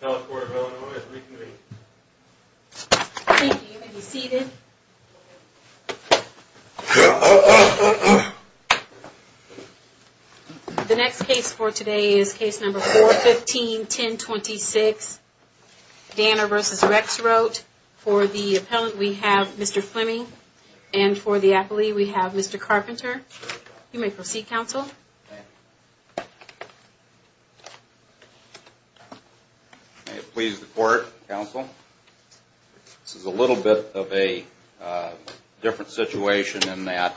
The next case for today is case number 415-1026, Danner v. Rexroat. For the appellant, we have Mr. Fleming, and for the appellee, we have Mr. Carpenter. You may proceed, counsel. May it please the court, counsel. This is a little bit of a different situation in that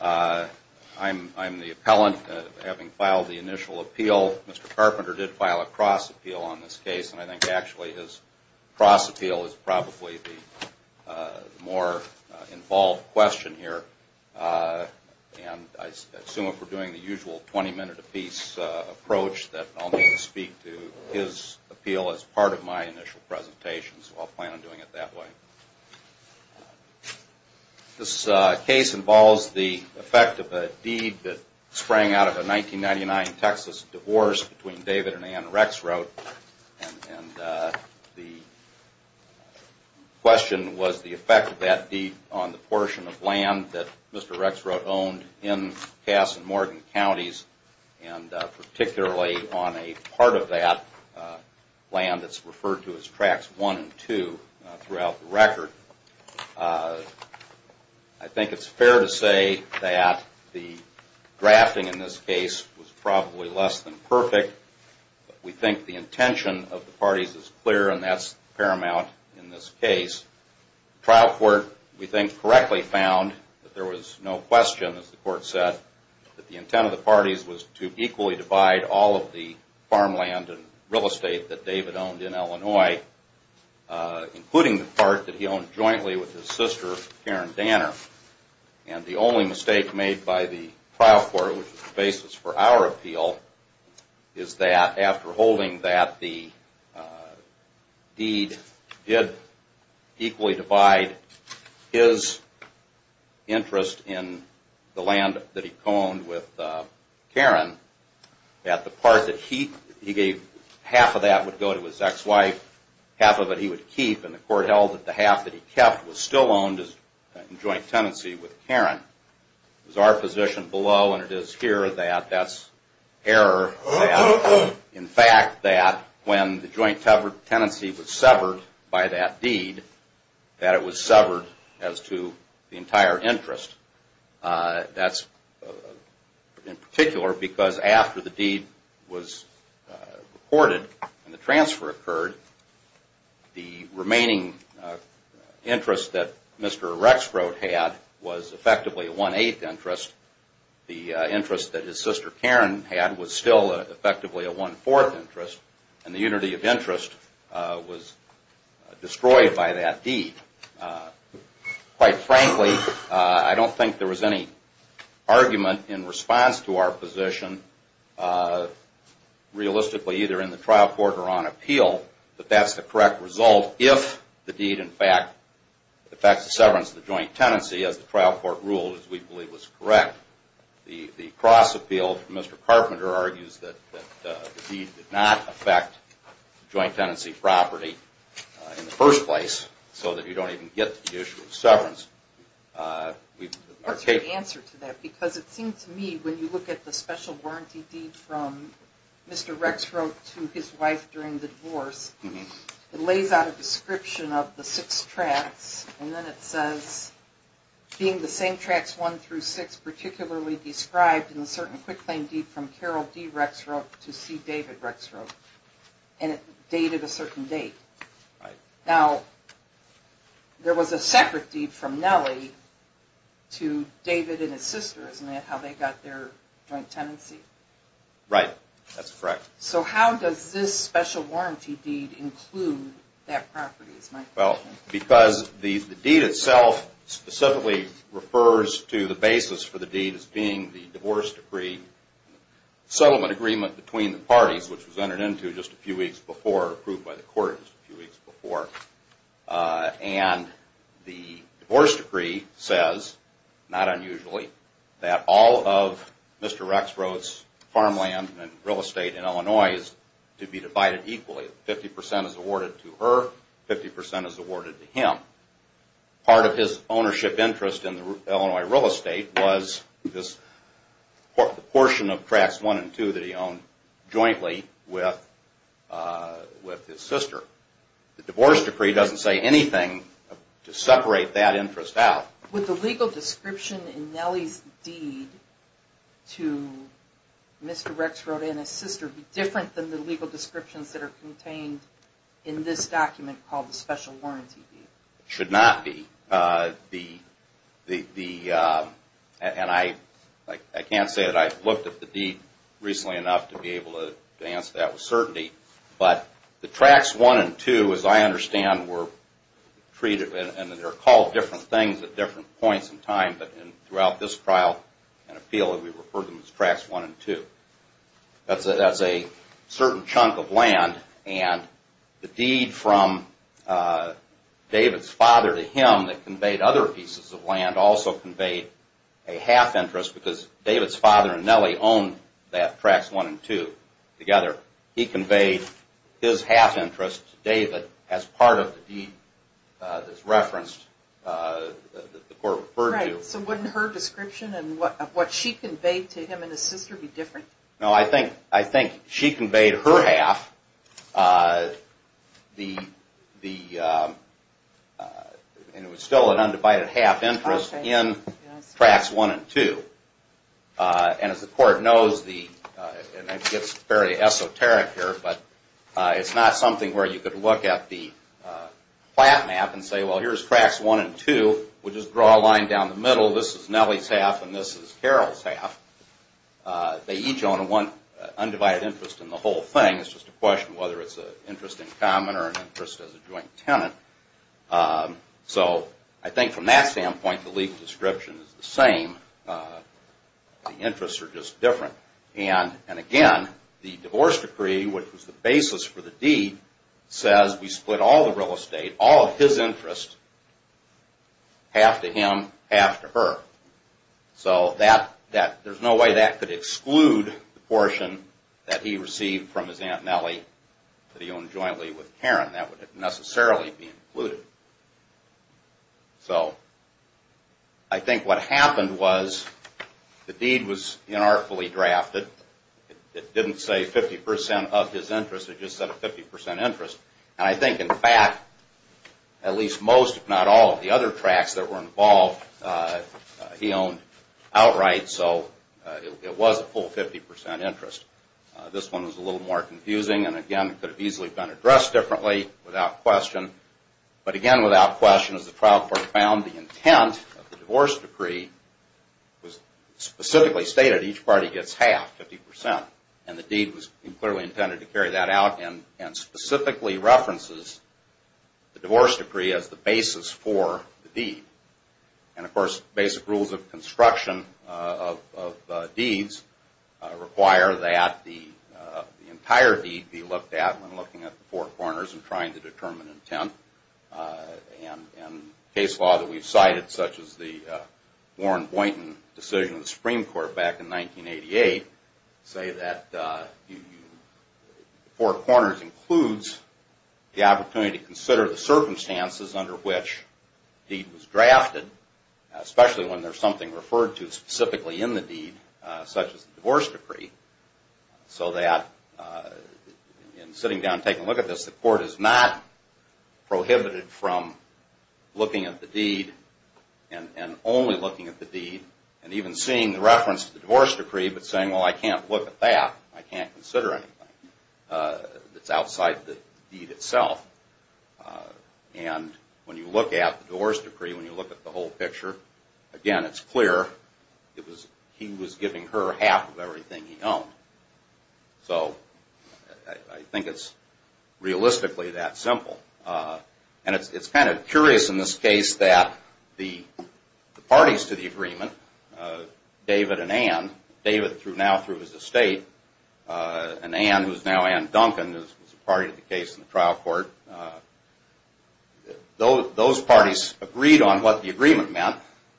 I'm the appellant, having filed the initial appeal. Mr. Carpenter did file a cross appeal on this case, and I think actually his cross appeal is probably the more involved question here. And I assume if we're doing the usual 20 minute a piece approach that I'll need to speak to his appeal as part of my initial presentation, so I'll plan on doing it that way. This case involves the effect of a deed that sprang out of a 1999 Texas divorce between David and Ann Rexroat, and the question was the effect of that deed on the portion of land that Mr. Rexroat owned in Cass and Morgan counties, and particularly on a part of that land that's referred to as Tracts 1 and 2 throughout the record. I think it's fair to say that the drafting in this case was probably less than perfect. We think the intention of the parties is clear, and that's paramount in this case. The trial court, we think, correctly found that there was no question, as the court said, that the intent of the parties was to equally divide all of the farmland and real estate that David owned in Illinois, including the part that he owned in Cass. And the only mistake made by the trial court, which is the basis for our appeal, is that after holding that the deed did equally divide his interest in the land that he co-owned with Karen, that the part that he gave half of that would go to his ex-wife, half of it he would keep, and the court held that the half that he gave would go to his ex-wife. The part that he kept was still owned in joint tenancy with Karen. It was our position below, and it is here, that that's error. In fact, that when the joint tenancy was severed by that deed, that it was severed as to the entire interest. That's in particular because after the deed was reported and the transfer occurred, the remaining interest that Mr. Rexfrod had was effectively a one-eighth interest. The interest that his sister Karen had was still effectively a one-fourth interest, and the unity of interest was destroyed by that deed. Quite frankly, I don't think there was any argument in response to our position, realistically either in the trial court or on appeal, that that's the correct result if the deed, in fact, affects the severance of the joint tenancy as the trial court ruled, as we believe was correct. The cross-appeal from Mr. Carpenter argues that the deed did not affect joint tenancy property in the first place, so that you don't even get to the issue of severance. What's your answer to that? Because it seems to me, when you look at the special warranty deed from Mr. Rexfrod to his wife during the divorce, it lays out a description of the six tracts, and then it says, being the same tracts one through six, particularly described in the certain quick claim deed from Carol D. Rexfrod to C. David Rexfrod, and it dated a certain date. Now, there was a separate deed from Nellie to David and his sister, isn't that how they got their joint tenancy? Right, that's correct. So how does this special warranty deed include that property, is my question. Well, because the deed itself specifically refers to the basis for the deed as being the divorce decree, settlement agreement between the parties, which was entered into just a few weeks before, approved by the court just a few weeks before. And the divorce decree says, not unusually, that all of Mr. Rexfrod's farmland and real estate in Illinois is to be divided equally. 50% is awarded to her, 50% is awarded to him. Part of his ownership interest in Illinois real estate was this portion of tracts one and two that he owned jointly with his sister. The divorce decree doesn't say anything to separate that interest out. Would the legal description in Nellie's deed to Mr. Rexfrod and his sister be different than the legal descriptions that are contained in this document called the special warranty deed? That's a certain chunk of land, and the deed from David's father to him that conveyed other pieces of land also conveyed a half interest, because David's father and Nellie owned that tracts one and two together. He conveyed his half interest to David as part of the deed that's referenced that the court referred to. Right, so wouldn't her description and what she conveyed to him and his sister be different? No, I think she conveyed her half, and it was still an undivided half interest in tracts one and two. And as the court knows, and it gets very esoteric here, but it's not something where you could look at the plat map and say, well, here's tracts one and two. We'll just draw a line down the middle. This is Nellie's half and this is Carol's half. They each own an undivided interest in the whole thing. It's just a question of whether it's an interest in common or an interest as a joint tenant. So I think from that standpoint, the legal description is the same. The interests are just different. And again, the divorce decree, which was the basis for the deed, says we split all the real estate, all of his interest, half to him, half to her. So there's no way that could exclude the portion that he received from his aunt Nellie that he owned jointly with Karen. That wouldn't necessarily be included. So I think what happened was the deed was inartfully drafted. It didn't say 50% of his interest. It just said a 50% interest. And I think, in fact, at least most, if not all, of the other tracts that were involved, he owned outright. So it was a full 50% interest. This one was a little more confusing. And again, it could have easily been addressed differently without question. But again, without question, as the trial court found, the intent of the divorce decree was specifically stated. Each party gets half, 50%. And the deed was clearly intended to carry that out and specifically references the divorce decree as the basis for the deed. And of course, basic rules of construction of deeds require that the entire deed be looked at when looking at the four corners and trying to determine intent. And case law that we've cited, such as the Warren Boynton decision of the Supreme Court back in 1988, say that the four corners includes the opportunity to consider the circumstances under which the deed was drafted, especially when there's something referred to specifically in the deed, such as the divorce decree, so that in sitting down and taking a look at this, the court is not prohibited from looking at the deed and only looking at the deed and even seeing the reference to the divorce decree, but saying, well, I can't look at that. I can't consider anything that's outside the deed itself. And when you look at the divorce decree, when you look at the whole picture, again, it's clear. He was giving her half of everything he owned. So I think it's realistically that simple. And it's kind of curious in this case that the parties to the agreement, David and Ann, David now through his estate, and Ann, who's now Ann Duncan, who was a party to the case in the trial court, those parties agreed on what the agreement meant.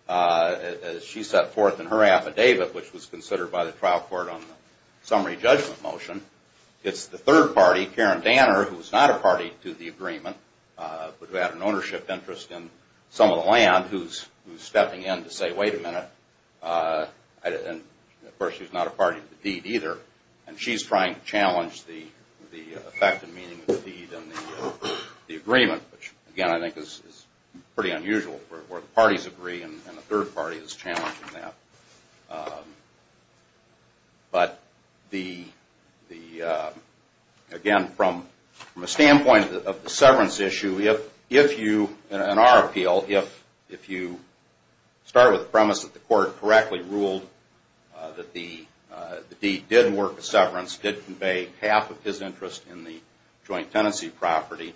As she set forth in her affidavit, which was considered by the trial court on the summary judgment motion, it's the third party, Karen Danner, who's not a party to the agreement, but who had an ownership interest in some of the land, who's stepping in to say, wait a minute. And of course, she's not a party to the deed either. And she's trying to challenge the effect and meaning of the deed and the agreement, which, again, I think is pretty unusual where the parties agree and the third party is challenging that. But, again, from a standpoint of the severance issue, if you, in our appeal, if you start with the premise that the court correctly ruled that the deed did work with severance, did convey half of his interest in the joint tenancy property,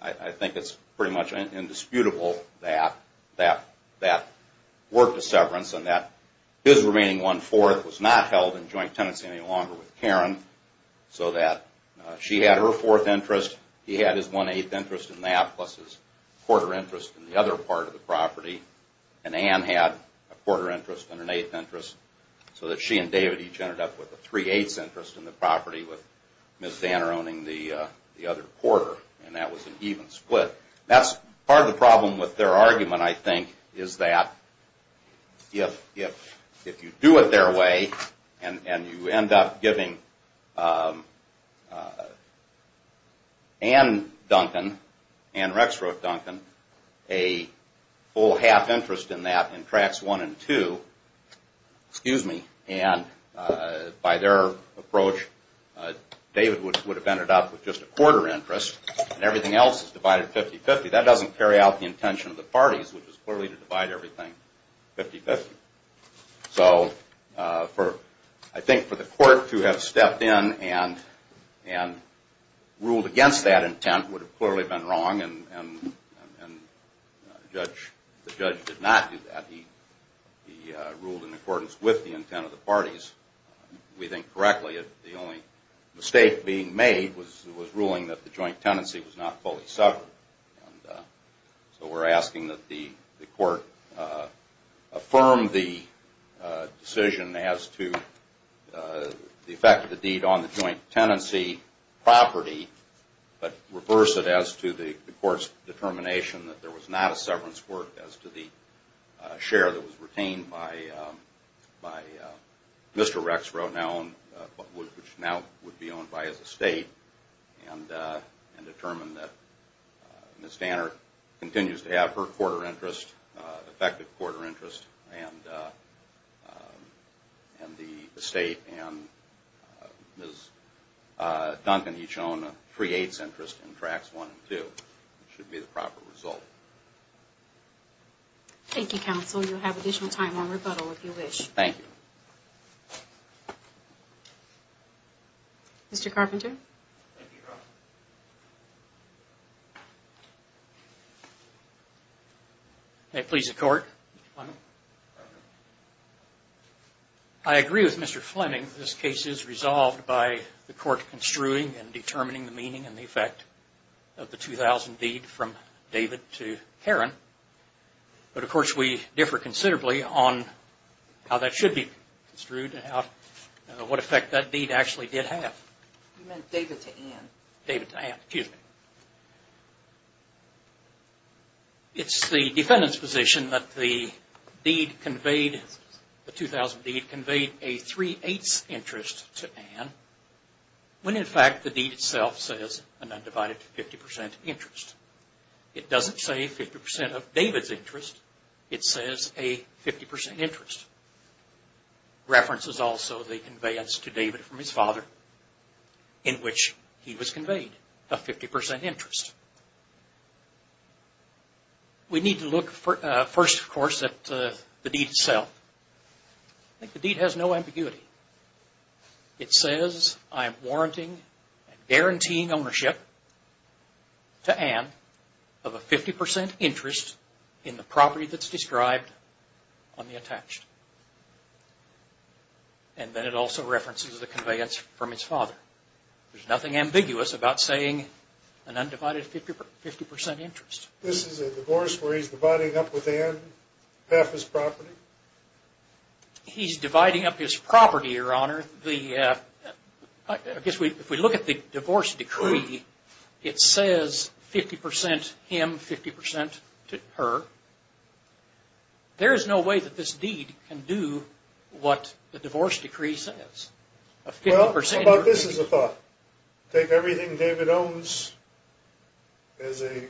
I think it's pretty much indisputable that that worked with severance and that his remaining one-fourth was not held in joint tenancy any longer with Karen, so that she had her fourth interest, he had his one-eighth interest in that, plus his quarter interest in the other part of the property, and Ann had a quarter interest and an eighth interest, so that she and David each ended up with a three-eighths interest in the property with Ms. Danner owning the other quarter, and that was an even split. That's part of the problem with their argument, I think, is that if you do it their way and you end up giving Ann Duncan, a full half interest in that in tracts one and two, and by their approach, David would have ended up with just a quarter interest and everything else is divided 50-50, that doesn't carry out the intention of the parties, which is clearly to divide everything 50-50. So I think for the court to have stepped in and ruled against that intent would have clearly been wrong and the judge did not do that. He ruled in accordance with the intent of the parties. We think correctly that the only mistake being made was ruling that the joint tenancy was not fully suffered. So we're asking that the court affirm the decision as to the effect of the deed on the joint tenancy property, but reverse it as to the court's determination that there was not a severance work as to the share that was retained by Mr. Rexrow, which now would be owned by his estate, and determine that Ms. Danner continues to have her quarter interest, effective quarter interest, and the estate and Ms. Duncan, he's shown, creates interest in tracts one and two. It should be the proper result. Thank you, counsel. You'll have additional time on rebuttal if you wish. Thank you. Mr. Carpenter? Thank you, counsel. May it please the court. I agree with Mr. Fleming that this case is resolved by the court construing and determining the meaning and the effect of the 2000 deed from David to Karen, but of course we differ considerably on how that should be construed and what effect that deed actually did have. You meant David to Ann. David to Ann, excuse me. It's the defendant's position that the 2000 deed conveyed a three-eighths interest to Ann, when in fact the deed itself says an undivided 50 percent interest. It doesn't say 50 percent of David's interest. It says a 50 percent interest. Reference is also the conveyance to David from his father in which he was conveyed a 50 percent interest. We need to look first, of course, at the deed itself. I think the deed has no ambiguity. It says I am warranting and guaranteeing ownership to Ann of a 50 percent interest in the property that's described on the attached. And then it also references the conveyance from his father. There's nothing ambiguous about saying an undivided 50 percent interest. This is a divorce where he's dividing up with Ann half his property? He's dividing up his property, Your Honor. I guess if we look at the divorce decree, it says 50 percent him, 50 percent her. There is no way that this deed can do what the divorce decree says. Well, how about this as a thought? Take everything David owns as an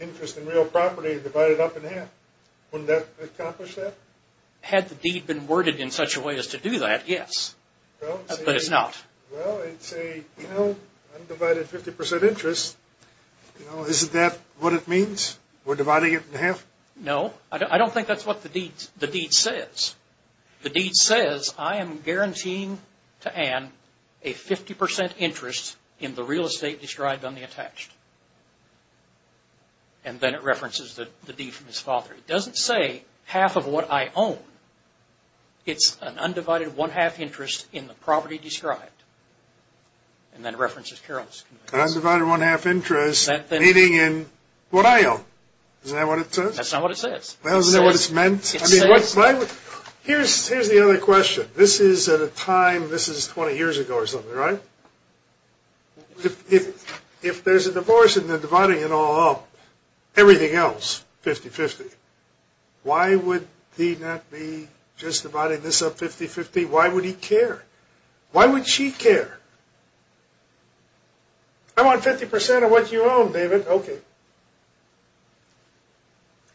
interest in real property and divide it up in half. Wouldn't that accomplish that? Had the deed been worded in such a way as to do that, yes, but it's not. Well, it's a undivided 50 percent interest. Isn't that what it means? We're dividing it in half? No. I don't think that's what the deed says. The deed says I am guaranteeing to Ann a 50 percent interest in the real estate described on the attached. And then it references the deed from his father. It doesn't say half of what I own. It's an undivided one-half interest in the property described. And then it references Carol's. Undivided one-half interest meaning in what I own. Isn't that what it says? That's not what it says. Isn't that what it's meant? Here's the other question. This is at a time, this is 20 years ago or something, right? If there's a divorce and they're dividing it all up, everything else 50-50, why would he not be just dividing this up 50-50? Why would he care? Why would she care? I want 50 percent of what you own, David. Okay.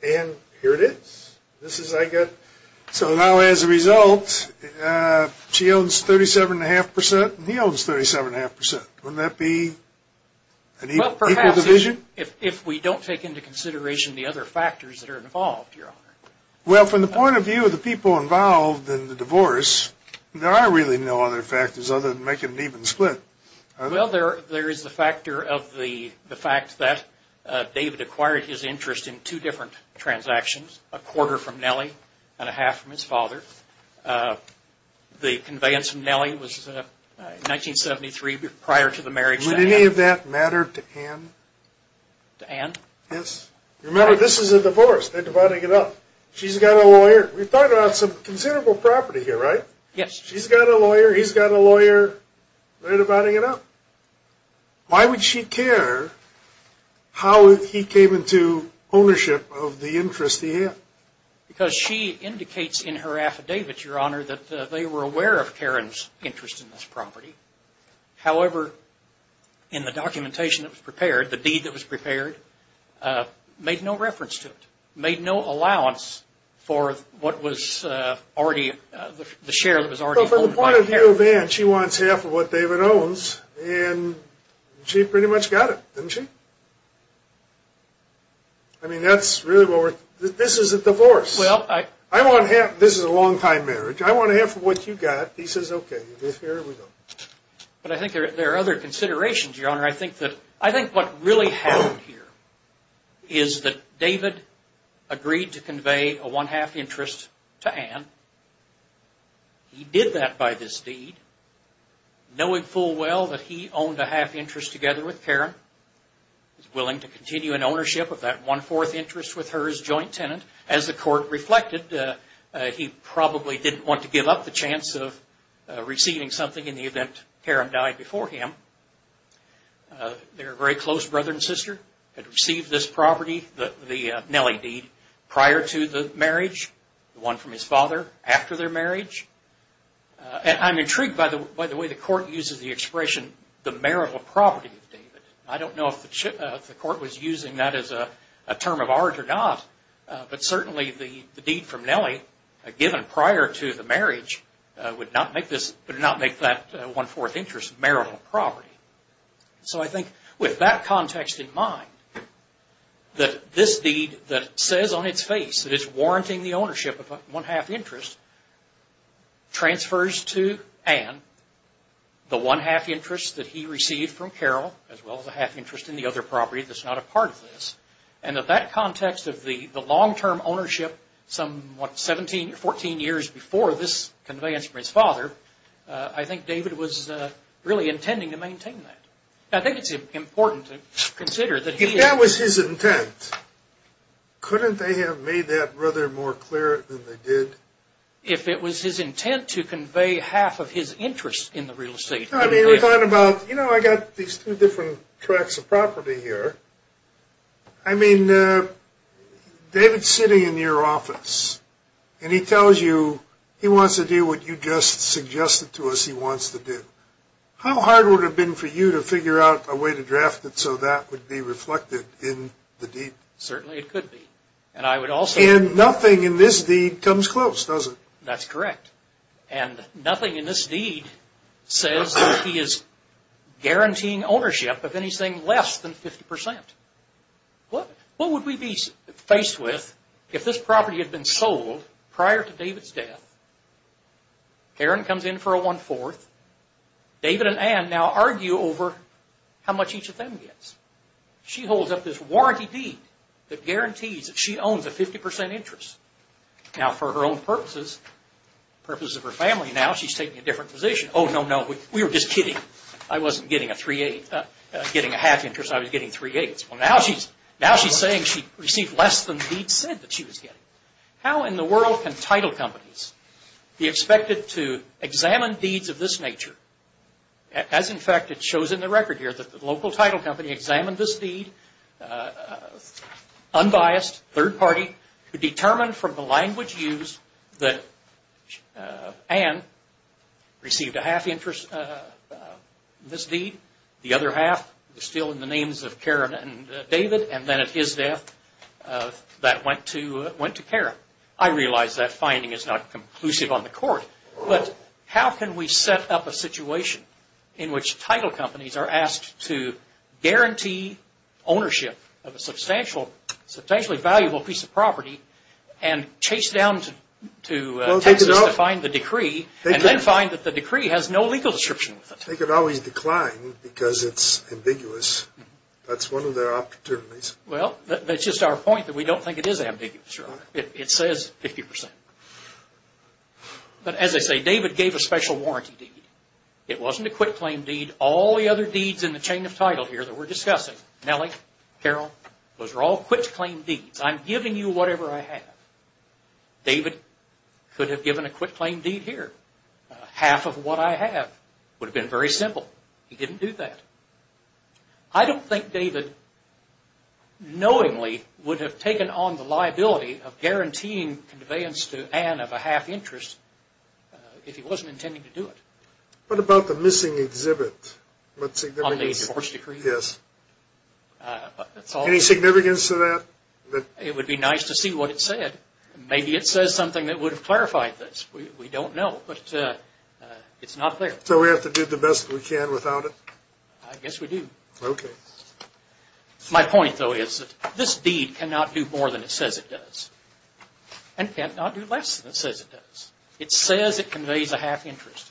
And here it is. So now as a result, she owns 37.5 percent and he owns 37.5 percent. Wouldn't that be an equal division? Well, perhaps if we don't take into consideration the other factors that are involved, Your Honor. Well, from the point of view of the people involved in the divorce, there are really no other factors other than making an even split. Well, there is the factor of the fact that David acquired his interest in two different transactions, a quarter from Nellie and a half from his father. The conveyance from Nellie was 1973 prior to the marriage. Would any of that matter to Ann? To Ann? Yes. Remember, this is a divorce. They're dividing it up. She's got a lawyer. We've talked about some considerable property here, right? Yes. She's got a lawyer. He's got a lawyer. They're dividing it up. Why would she care how he came into ownership of the interest he had? Because she indicates in her affidavit, Your Honor, that they were aware of Karen's interest in this property. However, in the documentation that was prepared, the deed that was prepared, made no reference to it, made no allowance for what was already the share that was already owned by Karen. If you have Ann, she wants half of what David owns, and she pretty much got it, didn't she? I mean, that's really what we're – this is a divorce. I want half – this is a long-time marriage. I want half of what you got. He says, okay, here we go. But I think there are other considerations, Your Honor. I think what really happened here is that David agreed to convey a one-half interest to Ann. He did that by this deed, knowing full well that he owned a half interest together with Karen, was willing to continue in ownership of that one-fourth interest with her as joint tenant. As the court reflected, he probably didn't want to give up the chance of receiving something in the event Karen died before him. Their very close brother and sister had received this property, the Nelly deed, prior to the marriage, the one from his father after their marriage. I'm intrigued by the way the court uses the expression, the marital property of David. I don't know if the court was using that as a term of art or not, but certainly the deed from Nelly given prior to the marriage would not make that one-fourth interest marital property. So I think with that context in mind, that this deed that says on its face that it's warranting the ownership of a one-half interest, transfers to Ann the one-half interest that he received from Carol, as well as a half interest in the other property that's not a part of this, and that that context of the long-term ownership some, what, 17 or 14 years before this conveyance from his father, I think David was really intending to maintain that. I think it's important to consider that he... If that was his intent, couldn't they have made that brother more clear than they did? If it was his intent to convey half of his interest in the real estate... I mean, we're talking about, you know, I got these two different tracks of property here. I mean, David's sitting in your office, and he tells you he wants to do what you just suggested to us he wants to do. How hard would it have been for you to figure out a way to draft it so that would be reflected in the deed? Certainly it could be, and I would also... And nothing in this deed comes close, does it? That's correct. And nothing in this deed says that he is guaranteeing ownership of anything less than 50%. What would we be faced with if this property had been sold prior to David's death? Karen comes in for a one-fourth. David and Ann now argue over how much each of them gets. She holds up this warranty deed that guarantees that she owns a 50% interest. Now, for her own purposes, the purposes of her family, now she's taking a different position. Oh, no, no, we were just kidding. I wasn't getting a three-eighth. Getting a half interest, I was getting three-eighths. Well, now she's saying she received less than the deed said that she was getting. How in the world can title companies be expected to examine deeds of this nature? As, in fact, it shows in the record here that the local title company examined this deed, unbiased, third party, determined from the language used that Ann received a half interest in this deed, the other half was still in the names of Karen and David, and then at his death that went to Karen. I realize that finding is not conclusive on the court, but how can we set up a situation in which title companies are asked to guarantee ownership of a substantially valuable piece of property and chase down to Texas to find the decree and then find that the decree has no legal description of it? They could always decline because it's ambiguous. That's one of their opportunities. Well, that's just our point that we don't think it is ambiguous. It says 50%. But as I say, David gave a special warranty deed. It wasn't a quick claim deed. All the other deeds in the chain of title here that we're discussing, Nellie, Carol, those are all quick claim deeds. I'm giving you whatever I have. David could have given a quick claim deed here. Half of what I have would have been very simple. He didn't do that. I don't think David knowingly would have taken on the liability of guaranteeing conveyance to Ann of a half interest if he wasn't intending to do it. What about the missing exhibit? On the divorce decree? Yes. Any significance to that? It would be nice to see what it said. Maybe it says something that would have clarified this. We don't know, but it's not there. So we have to do the best we can without it? I guess we do. Okay. My point, though, is that this deed cannot do more than it says it does and cannot do less than it says it does. It says it conveys a half interest.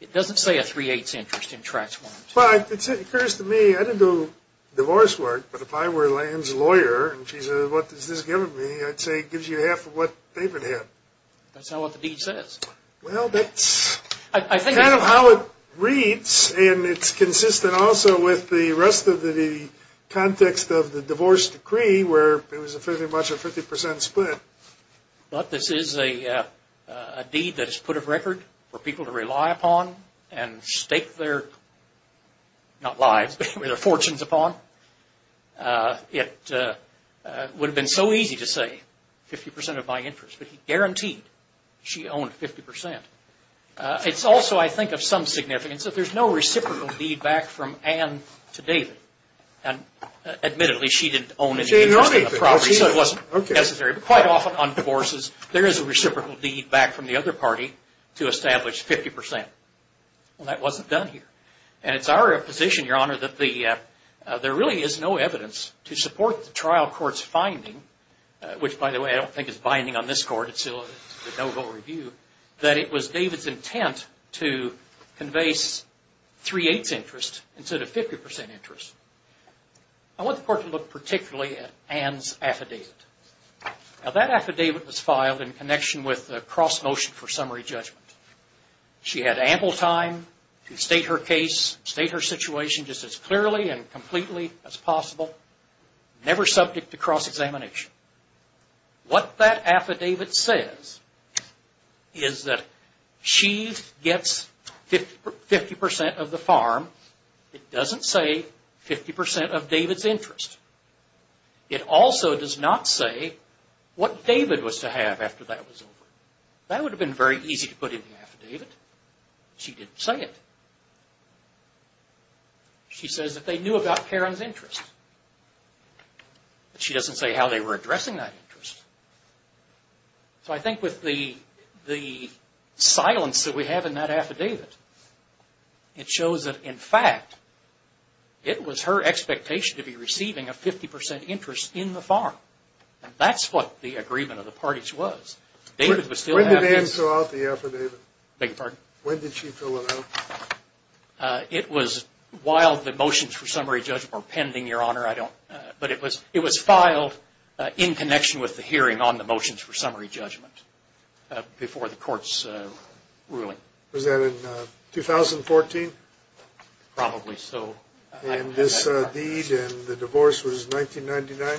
It doesn't say a three-eighths interest in tracts. Well, it occurs to me, I didn't do divorce work, but if I were Ann's lawyer and she said, what has this given me, I'd say it gives you half of what David had. That's not what the deed says. Well, that's kind of how it reads, and it's consistent also with the rest of the context of the divorce decree where it was pretty much a 50 percent split. But this is a deed that is put of record for people to rely upon and stake their, not lives, but their fortunes upon. It would have been so easy to say 50 percent of my interest, but he guaranteed she owned 50 percent. It's also, I think, of some significance that there's no reciprocal deed back from Ann to David. Admittedly, she didn't own any interest in the property, so it wasn't necessary. But quite often on divorces, there is a reciprocal deed back from the other party to establish 50 percent. Well, that wasn't done here. And it's our position, Your Honor, that there really is no evidence to support the trial court's finding, which, by the way, I don't think is binding on this court. that it was David's intent to convey 3-8's interest instead of 50 percent interest. I want the court to look particularly at Ann's affidavit. Now, that affidavit was filed in connection with a cross-motion for summary judgment. She had ample time to state her case, state her situation just as clearly and completely as possible, never subject to cross-examination. What that affidavit says is that she gets 50 percent of the farm. It doesn't say 50 percent of David's interest. It also does not say what David was to have after that was over. That would have been very easy to put in the affidavit. She didn't say it. She says that they knew about Karen's interest. She doesn't say how they were addressing that interest. So I think with the silence that we have in that affidavit, it shows that, in fact, it was her expectation to be receiving a 50 percent interest in the farm. And that's what the agreement of the parties was. When did Ann fill out the affidavit? Beg your pardon? When did she fill it out? It was while the motions for summary judgment were pending, Your Honor. But it was filed in connection with the hearing on the motions for summary judgment before the court's ruling. Was that in 2014? Probably so. And this deed and the divorce was 1999?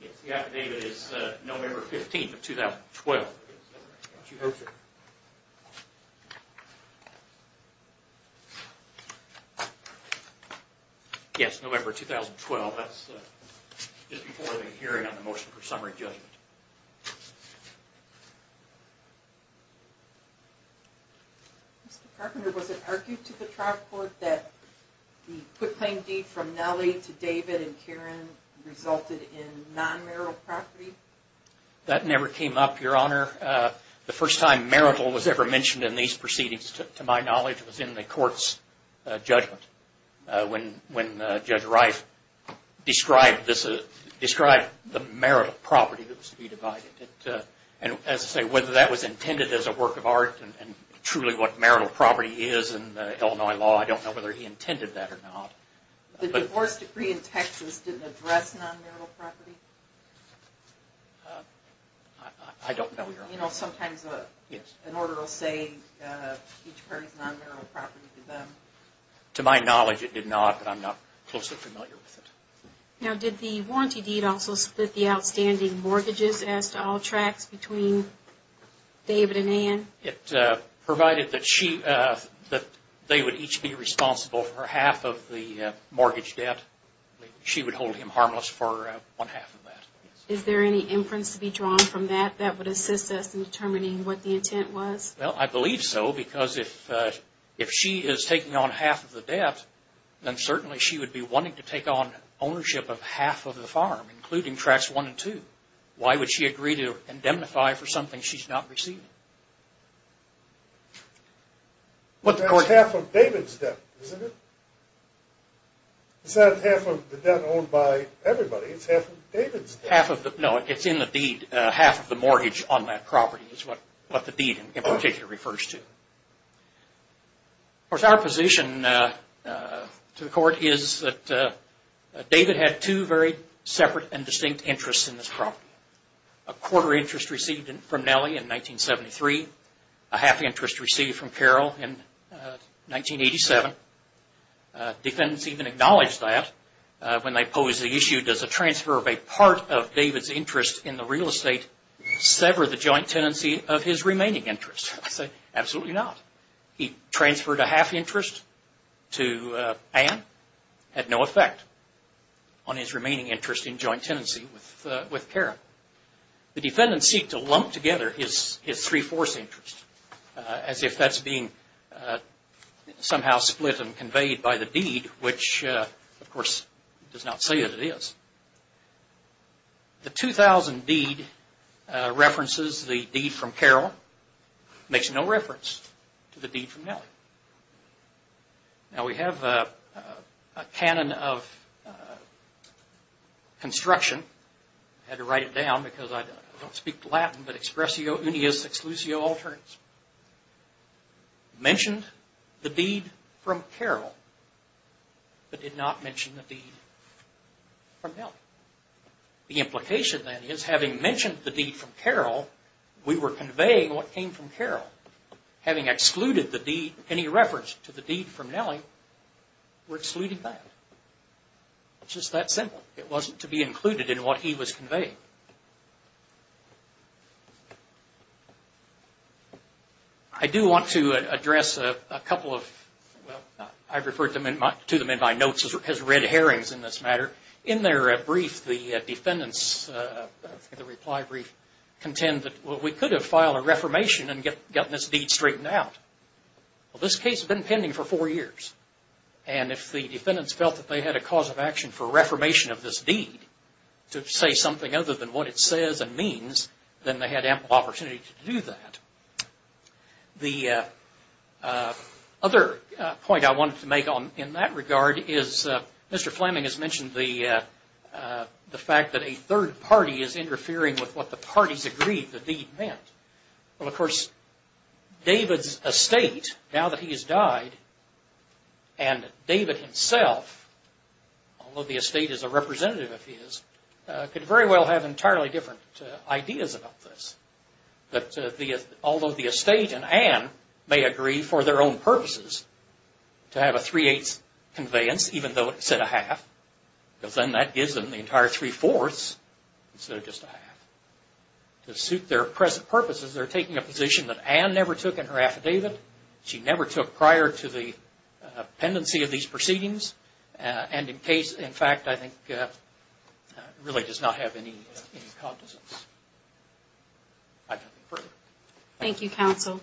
Yes, the affidavit is November 15th of 2012. She hopes it is. Yes, November 2012. That's just before the hearing on the motion for summary judgment. Mr. Carpenter, was it argued to the trial court that the motion for summary judgment the quick claim deed from Nellie to David and Karen resulted in non-marital property? That never came up, Your Honor. The first time marital was ever mentioned in these proceedings, to my knowledge, was in the court's judgment when Judge Reif described the marital property that was to be divided. And as I say, whether that was intended as a work of art and truly what marital property is in Illinois law, I don't know whether he intended that or not. The divorce decree in Texas didn't address non-marital property? I don't know, Your Honor. You know, sometimes an order will say each party's non-marital property to them. To my knowledge, it did not, but I'm not closely familiar with it. Now, did the warranty deed also split the outstanding mortgages as to all tracts between David and Ann? It provided that they would each be responsible for half of the mortgage debt. She would hold him harmless for one half of that. Is there any inference to be drawn from that that would assist us in determining what the intent was? Well, I believe so, because if she is taking on half of the debt, then certainly she would be wanting to take on ownership of half of the farm, including Tracts 1 and 2. Why would she agree to indemnify for something she's not receiving? That's half of David's debt, isn't it? It's not half of the debt owned by everybody, it's half of David's debt. No, it's in the deed. Half of the mortgage on that property is what the deed in particular refers to. Of course, our position to the court is that David had two very separate and distinct interests in this property. A quarter interest received from Nellie in 1973, a half interest received from Carol in 1987. Defendants even acknowledged that when they posed the issue, does a transfer of a part of David's interest in the real estate sever the joint tenancy of his remaining interest? I say, absolutely not. He transferred a half interest to Ann, had no effect on his remaining interest in joint tenancy with Carol. The defendants seek to lump together his three-fourths interest, as if that's being somehow split and conveyed by the deed, which, of course, does not say that it is. The 2000 deed references the deed from Carol, makes no reference to the deed from Nellie. Now, we have a canon of construction. I had to write it down because I don't speak Latin, but expressio unius exclusio alternis. Mentioned the deed from Carol, but did not mention the deed from Nellie. The implication, then, is having mentioned the deed from Carol, we were conveying what came from Carol. Having excluded the deed, any reference to the deed from Nellie, we're excluding that. It's just that simple. It wasn't to be included in what he was conveying. I do want to address a couple of... I referred to them in my notes as red herrings in this matter. In their brief, the defendants, the reply brief, contend that we could have filed a reformation and gotten this deed straightened out. Well, this case had been pending for four years. And if the defendants felt that they had a cause of action for a reformation of this deed, to say something other than what it says and means, then they had ample opportunity to do that. The other point I wanted to make in that regard is, Mr. Fleming has mentioned the fact that a third party is interfering with what the parties agreed the deed meant. Well, of course, David's estate, now that he has died, and David himself, although the estate is a representative of his, could very well have entirely different ideas about this. Although the estate and Anne may agree for their own purposes to have a three-eighths conveyance, even though instead of half, because then that gives them the entire three-fourths, instead of just a half. To suit their present purposes, they're taking a position that Anne never took in her affidavit, she never took prior to the pendency of these proceedings, and in fact, I think, really does not have any cognizance. I can't think further. Thank you, counsel.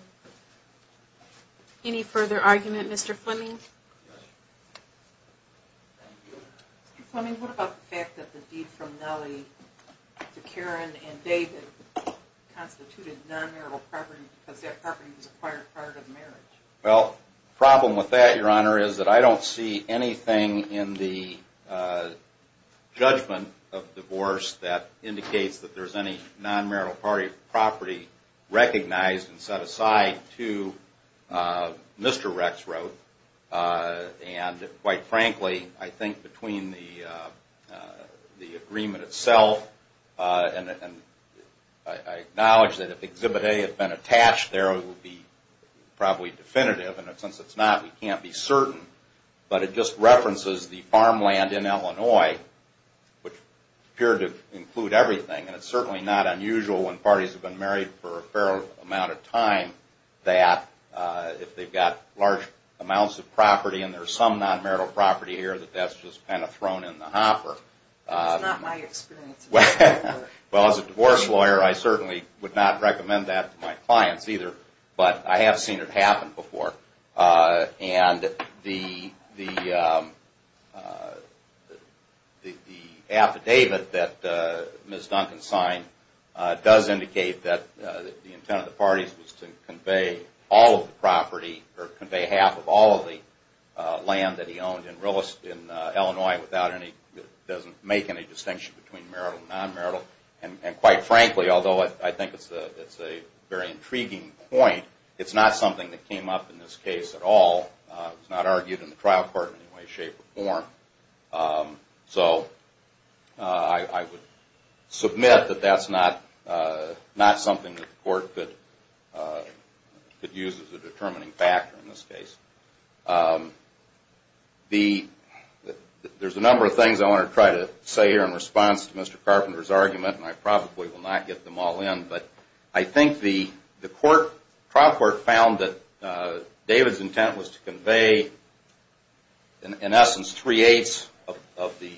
Any further argument, Mr. Fleming? Mr. Fleming, what about the fact that the deed from Nellie to Karen and David constituted non-marital property because that property was acquired prior to the marriage? Well, the problem with that, Your Honor, is that I don't see anything in the judgment of divorce that indicates that there's any non-marital property recognized and set aside to Mr. Rexroth. And quite frankly, I think between the agreement itself, and I acknowledge that if Exhibit A had been attached there, it would be probably definitive. And since it's not, we can't be certain. But it just references the farmland in Illinois, which appeared to include everything. And it's certainly not unusual when parties have been married for a fair amount of time that if they've got large amounts of property and there's some non-marital property here, that that's just kind of thrown in the hopper. That's not my experience. Well, as a divorce lawyer, I certainly would not recommend that to my clients either. But I have seen it happen before. And the affidavit that Ms. Duncan signed does indicate that the intent of the parties was to convey all of the property or convey half of all of the land that he owned in Illinois without any – doesn't make any distinction between marital and non-marital. And quite frankly, although I think it's a very intriguing point, it's not something that came up in this case at all. It was not argued in the trial court in any way, shape, or form. So I would submit that that's not something that the court could use as a determining factor in this case. There's a number of things I want to try to say here in response to Mr. Carpenter's argument, and I probably will not get them all in. But I think the trial court found that David's intent was to convey, in essence, three-eighths of the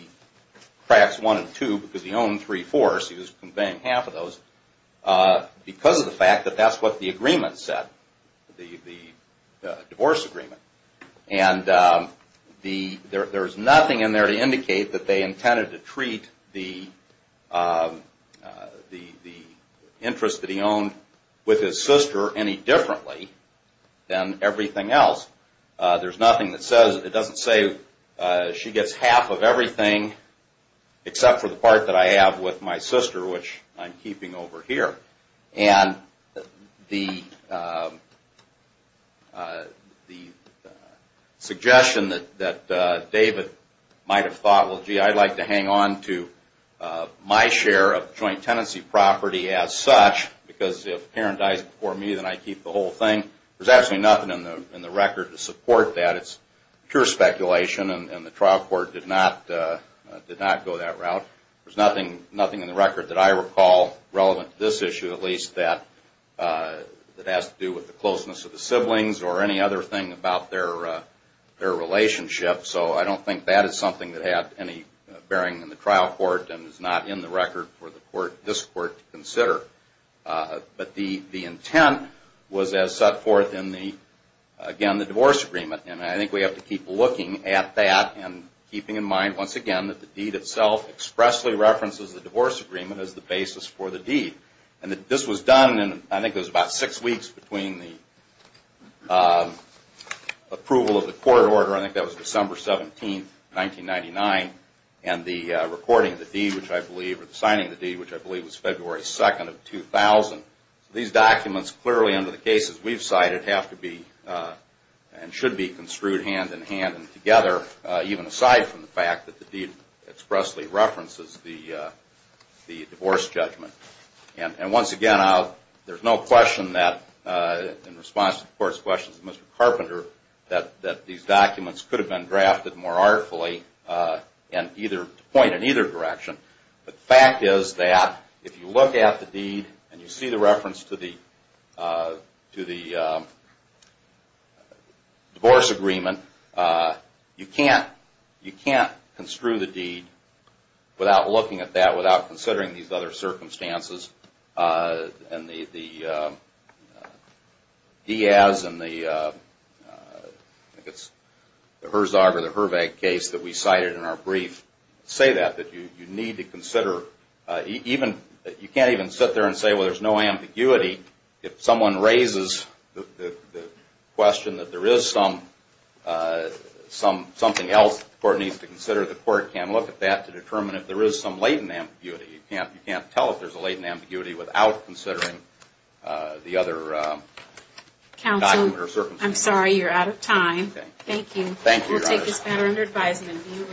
cracks, one and two, because he owned three-fourths. He was conveying half of those because of the fact that that's what the agreement said, the divorce agreement. And there's nothing in there to indicate that they intended to treat the interest that he owned with his sister any differently than everything else. There's nothing that says – it doesn't say she gets half of everything except for the part that I have with my sister, which I'm keeping over here. And the suggestion that David might have thought, well, gee, I'd like to hang on to my share of joint tenancy property as such, because if Karen dies before me, then I keep the whole thing. There's absolutely nothing in the record to support that. It's pure speculation, and the trial court did not go that route. There's nothing in the record that I recall, relevant to this issue at least, that has to do with the closeness of the siblings or any other thing about their relationship. So I don't think that is something that had any bearing in the trial court and is not in the record for this court to consider. But the intent was as set forth in, again, the divorce agreement. And I think we have to keep looking at that and keeping in mind, once again, that the deed itself expressly references the divorce agreement as the basis for the deed. And this was done in, I think it was about six weeks between the approval of the court order, I think that was December 17th, 1999, and the recording of the deed, which I believe, or the signing of the deed, which I believe was February 2nd of 2000. So these documents clearly, under the cases we've cited, have to be and should be construed hand-in-hand and together, even aside from the fact that the deed expressly references the divorce judgment. And once again, there's no question that, in response to the court's questions to Mr. Carpenter, that these documents could have been drafted more artfully to point in either direction. But the fact is that, if you look at the deed and you see the reference to the divorce agreement, you can't construe the deed without looking at that, without considering these other circumstances. And the Diaz and the Herzog or the Hrvac case that we cited in our brief say that, that you need to consider. You can't even sit there and say, well, there's no ambiguity. If someone raises the question that there is something else the court needs to consider, the court can look at that to determine if there is some latent ambiguity. You can't tell if there's a latent ambiguity without considering the other document or circumstances. Counsel, I'm sorry, you're out of time. Thank you. Thank you, Your Honor. We'll take this matter under advisement and view recess.